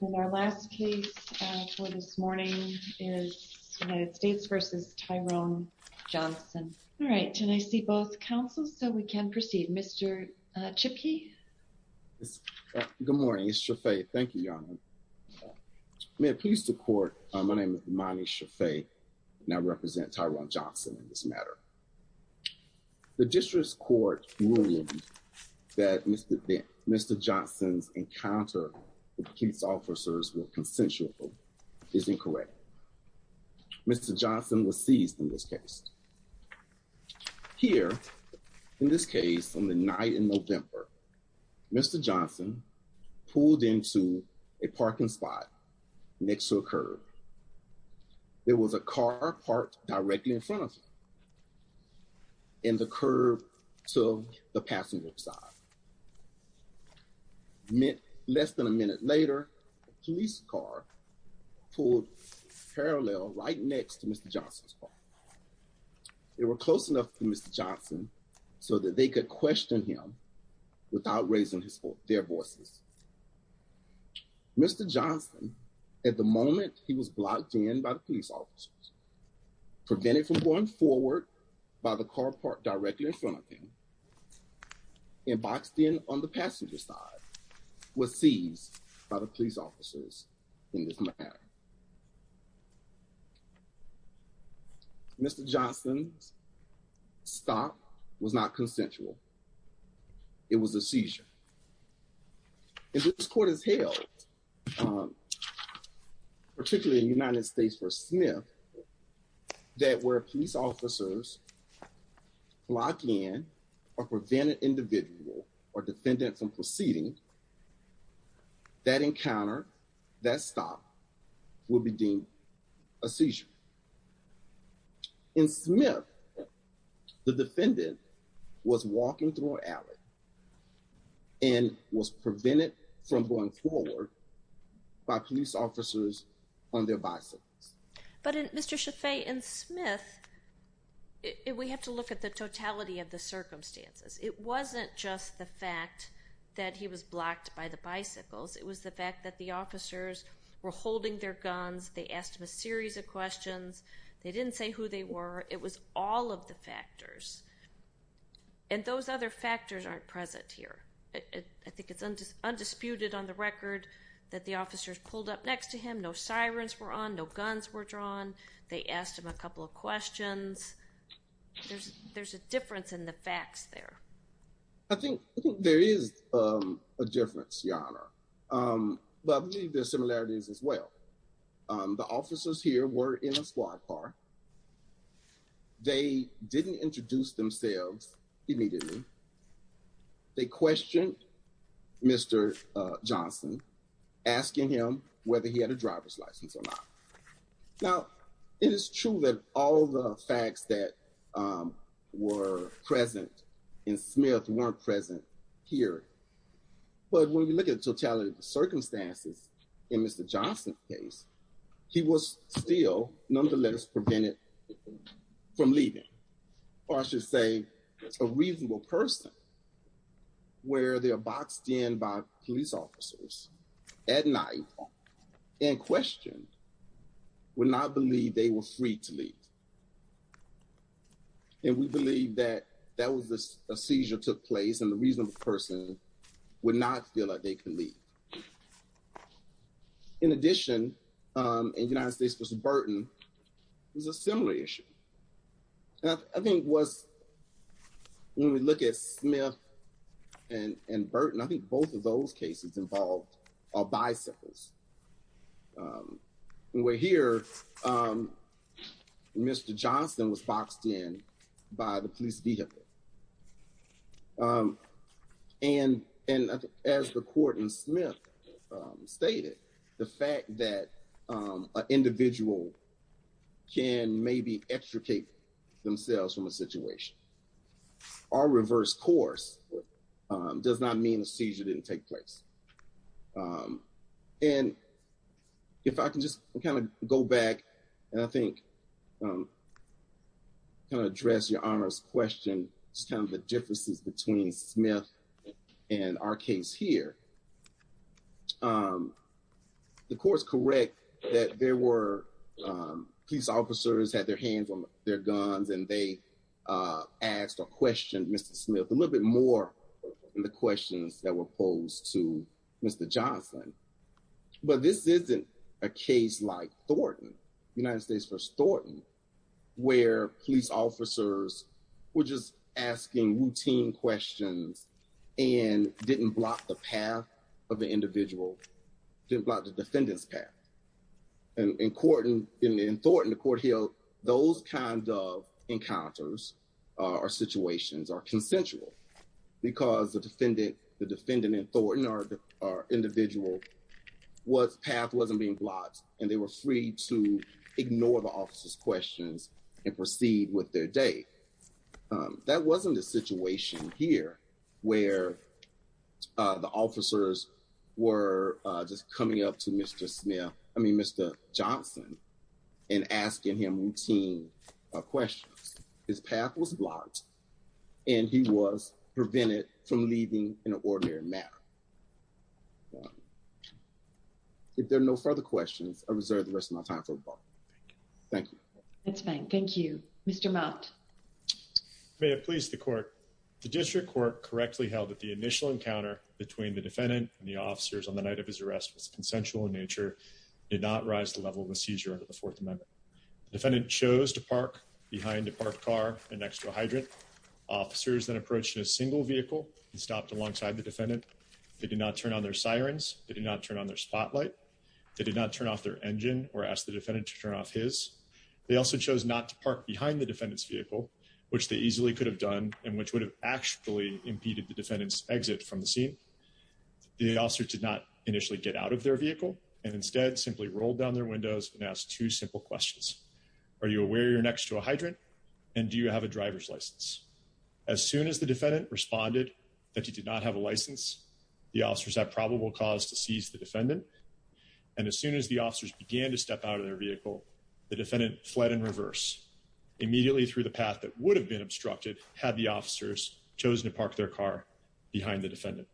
And our last case for this morning is United States v. Tyrone Johnson. All right, can I see both counsels so we can proceed? Mr. Chipkey? Good morning, it's Shafae. Thank you, Your Honor. May it please the court, my name is Imani Shafae and I represent Tyrone Johnson in this matter. All right, the district court ruled that Mr. Johnson's encounter with police officers with consensual is incorrect. Mr. Johnson was seized in this case. Here, in this case, on the night in November, Mr. Johnson pulled into a parking spot next to a curb. There was a car parked directly in front of him in the curb to the passenger side. Less than a minute later, a police car pulled parallel right next to Mr. Johnson's car. They were close enough to Mr. Johnson so that they could question him without raising their voices. Mr. Johnson, at the moment he was blocked in by the police officers, prevented from going forward by the car parked directly in front of him, and boxed in on the passenger side, was seized by the police officers in this matter. Mr. Johnson's stop was not consensual. It was a seizure. If this court has held, particularly in United States v. Smith, that where police officers block in a prevented individual or defendant from proceeding, that encounter, that stop, would be deemed a seizure. In Smith, the defendant was walking through an alley and was prevented from going forward by police officers on their bicycles. But in Mr. Shafae in Smith, we have to look at the totality of the circumstances. It wasn't just the fact that he was blocked by the bicycles. It was the fact that the officers were holding their guns. They asked him a series of questions. They didn't say who they were. It was all of the factors that aren't present here. I think it's undisputed on the record that the officers pulled up next to him. No sirens were on. No guns were drawn. They asked him a couple of questions. There's a difference in the facts there. I think there is a difference, Your Honor. But I believe there are similarities as well. The officers here were in a squad car. They didn't introduce themselves immediately. They questioned Mr. Johnson, asking him whether he had a driver's license or not. Now, it is true that all the facts that were present in Smith weren't present here. But when we look at the totality of the circumstances in Mr. Johnson's case, he was still, none the less, prevented from leaving. Or I should say, a reasonable person, where they are boxed in by police officers at night and questioned, would not believe they were free to leave. And we believe that that was a seizure that took place, and the reasonable person would not feel that they could leave. In addition, in the United States, Mr. Burton was a similar issue. I think when we look at Smith and Burton, I think both of those cases involved are bicycles. When we're here, Mr. Johnson was boxed in by the police vehicle. And as the court in Smith stated, the fact that an individual can maybe extricate themselves from a situation, or reverse course, does not mean a seizure didn't take place. And if I can just kind of go back, and I think kind of address your Honor's question, just kind of the differences between Smith and our case here. The court's correct that police officers had their hands on their guns, and they asked or questioned Mr. Smith a little bit more than the questions that were posed to Mr. Johnson. But this isn't a case like Thornton, United States v. Thornton, where police officers were just asking routine questions and didn't block the path of the individual, didn't block the defendant's path. And in Thornton, the court held those kinds of encounters or situations are consensual, because the defendant in Thornton or individual path wasn't being blocked, and they were free to ignore the officer's questions and proceed with their day. That wasn't a situation here, where the officers were just coming up to Mr. Smith, I mean Mr. Johnson, and asking him routine questions. His path was blocked, and he was prevented from leaving in an ordinary manner. If there are no further questions, I reserve the rest of my time for rebuttal. Thank you. That's fine, thank you. Mr. Mott. May it please the court, the district court correctly held that the initial encounter between the defendant and the officers on the night of his arrest was consensual in nature, did not rise the level of the seizure under the fourth amendment. The defendant chose to park behind a parked car and next to a hydrant. Officers then approached a single vehicle and stopped alongside the defendant. They did not turn on their sirens, they did not turn on their spotlight, they did not turn off their engine or ask the defendant to turn off his. They also chose not to park behind the defendant's vehicle, which they easily could have done, and which would have actually impeded the defendant's exit from the scene. The officer did not initially get out of their vehicle, and instead simply rolled down their windows and asked two simple questions. Are you aware you're next to a hydrant, and do you have a driver's license? As soon as the defendant responded that he did not have a license, the officers had probable cause to seize the defendant, and as soon as the officers began to step out of their vehicle, the defendant fled in reverse. Immediately through the path that would have been obstructed, had the officers chosen to park their car behind the defendant.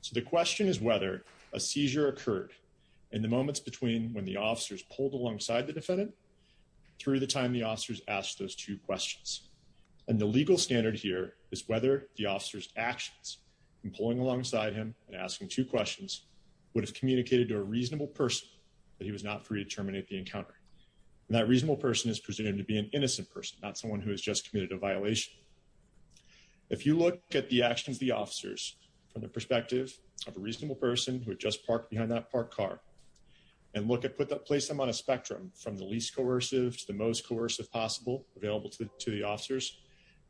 So the question is whether a seizure occurred in the moments between when the officers pulled alongside the defendant, through the time the officers asked those two questions. And the legal standard here is whether the officer's actions in pulling alongside him and asking two questions would have communicated to a reasonable person that he was not free to terminate the encounter, and that reasonable person is presumed to be an innocent person, not someone who has just committed a violation. If you look at the actions of the officers from the perspective of a reasonable person who had just parked behind that parked car, and look at put that place them on a spectrum from the least coercive to the most coercive possible available to the officers,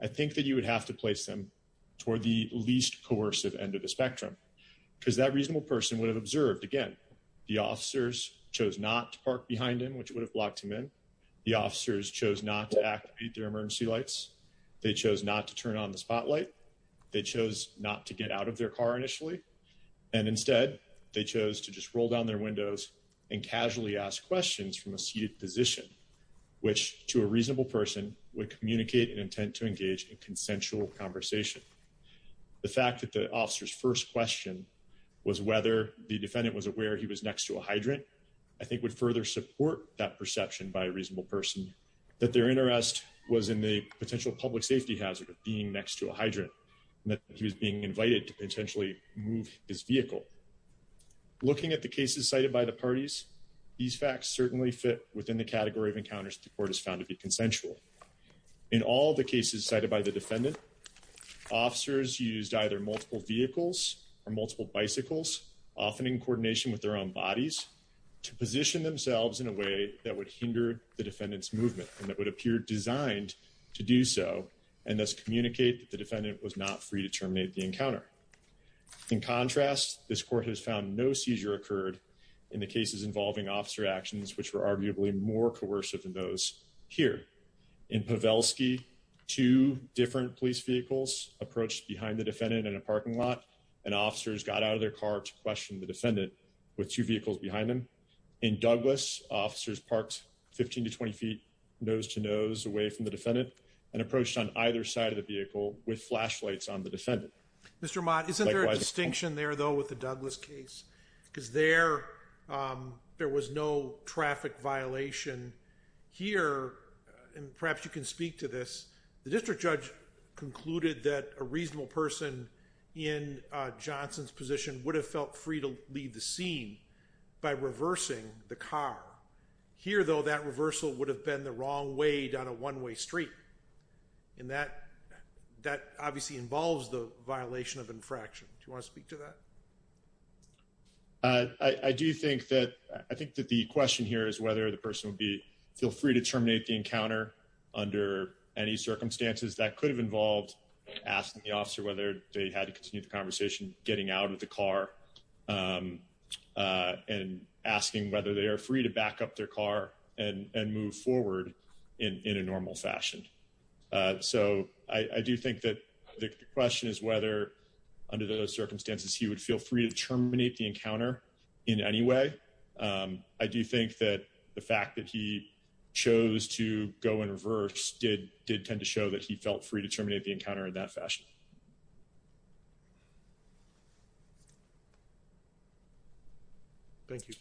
I think that you would have to place them toward the least coercive end of the spectrum, because that person would have observed again, the officers chose not to park behind him, which would have blocked him in. The officers chose not to activate their emergency lights. They chose not to turn on the spotlight. They chose not to get out of their car initially. And instead, they chose to just roll down their windows and casually ask questions from a seated position, which to a reasonable person would communicate an intent to engage in consensual conversation. The fact that the first question was whether the defendant was aware he was next to a hydrant, I think would further support that perception by a reasonable person that their interest was in the potential public safety hazard of being next to a hydrant, and that he was being invited to potentially move his vehicle. Looking at the cases cited by the parties, these facts certainly fit within the category of encounters the court has found to be consensual. In all the cases cited by the defendant, officers used either multiple vehicles or multiple bicycles, often in coordination with their own bodies, to position themselves in a way that would hinder the defendant's movement, and that would appear designed to do so, and thus communicate that the defendant was not free to terminate the encounter. In contrast, this court has found no seizure occurred in the cases involving officer actions, which were arguably more coercive than those here. In Pavelski, two different police vehicles approached behind the defendant in a parking lot, and officers got out of their car to question the defendant with two vehicles behind them. In Douglas, officers parked 15 to 20 feet nose-to-nose away from the defendant and approached on either side of the vehicle with flashlights on the defendant. Mr. Mott, isn't there a distinction there though with the Douglas case? Because there was no traffic violation. Here, and perhaps you can speak to this, the district judge concluded that a reasonable person in Johnson's position would have felt free to leave the scene by reversing the car. Here though, that reversal would have been the wrong way down a one-way street, and that obviously involves the violation of infraction. Do you I do think that I think that the question here is whether the person would be feel free to terminate the encounter under any circumstances that could have involved asking the officer whether they had to continue the conversation getting out of the car and asking whether they are free to back up their car and move forward in a normal fashion. So I do think that the question is whether under those circumstances he would feel free to terminate the encounter in any way. I do think that the fact that he chose to go in reverse did did tend to show that he felt free to terminate the encounter in that fashion. Thank you.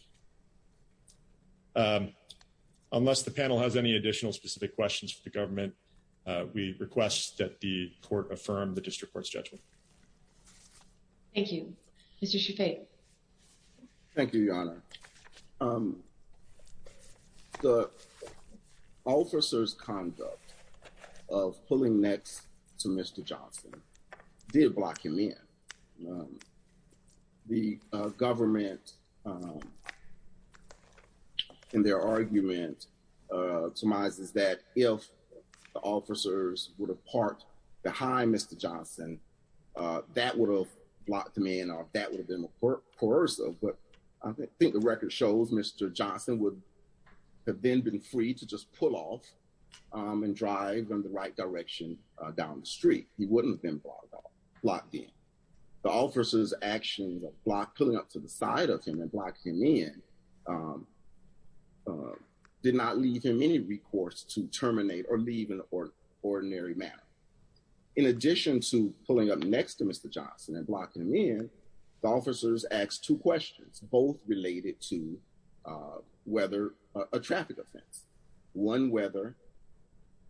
Unless the panel has additional specific questions for the government, we request that the court affirm the district court's judgment. Thank you. Mr. Shafae. Thank you, Your Honor. The officer's conduct of pulling nets to Mr. Johnson did block him in. The government in their argument surmises that if the officers would have parked behind Mr. Johnson, that would have blocked him in or that would have been coercive, but I think the record shows Mr. Johnson would have then been free to just pull off and drive in the right direction down the street. He wouldn't have been blocked in. The officer's actions of pulling up to the side of him and blocking him in did not leave him any recourse to terminate or leave in ordinary manner. In addition to pulling up next to Mr. Johnson and blocking him in, the officers asked two questions, both related to whether a traffic offense. One, whether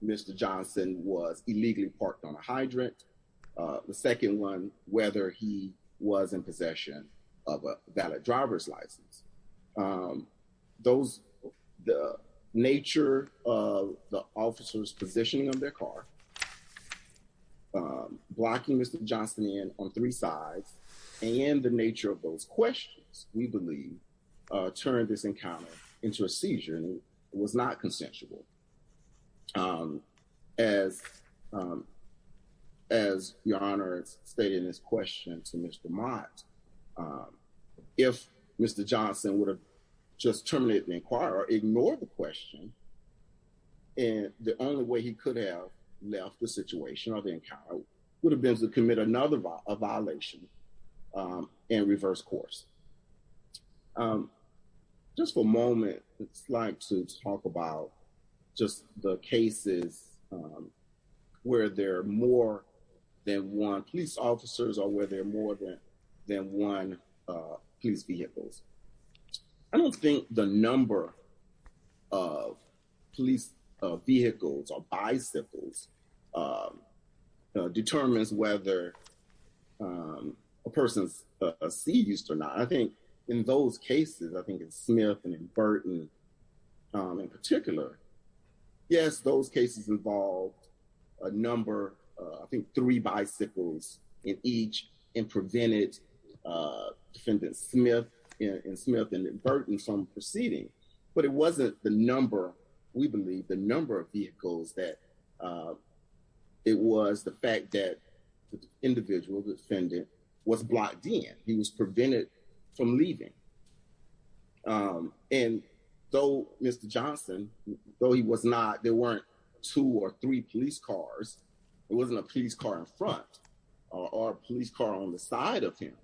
Mr. Johnson was illegally parked on a hydrant. The second one, whether he was in possession of a valid driver's license. The nature of the officer's positioning of their car, blocking Mr. Johnson in on three sides, and the nature of those questions, we believe, turned this encounter into a seizure and it was not consensual. As Your Honor stated in his question to Mr. Mott, if Mr. Johnson would have just terminated the inquiry or ignored the question, the only way he could have left the situation or the encounter would have been to commit another violation and reverse course. Just for a moment, I'd like to talk about just the cases where there are more than one police officers or where there are more than one police vehicles. I don't think the number of police vehicles or bicycles determines whether a person's seized or not. I think in those cases, I think in Smith and in Burton in particular, yes, those cases involved a number, I think three bicycles in each and prevented Defendant Smith and Burton from proceeding. But it wasn't the number, we believe, the number of vehicles that it was the fact that the individual defendant was blocked in. He was prevented from leaving. And though Mr. Johnson, though he was not, there or a police car on the side of him,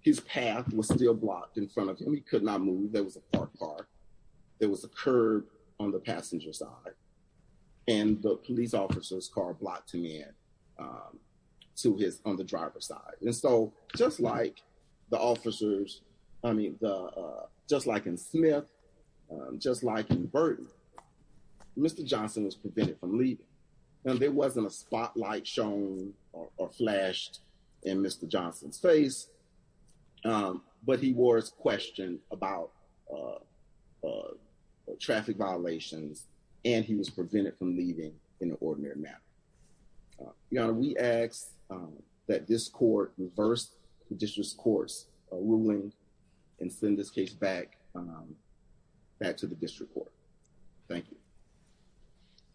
his path was still blocked in front of him. He could not move. There was a parked car. There was a curb on the passenger side and the police officer's car blocked him in to his, on the driver's side. And so just like the officers, I mean, just like in Burton, Mr. Johnson was prevented from leaving and there wasn't a spotlight shown or flashed in Mr. Johnson's face. But he was questioned about traffic violations and he was prevented from leaving in an ordinary manner. Your Honor, we ask that this court reverse the district's ruling and send this case back to the district court. Thank you.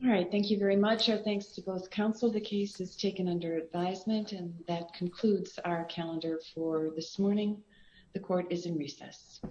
All right. Thank you very much. Our thanks to both counsel. The case is taken under advisement and that concludes our calendar for this morning. The court is in recess.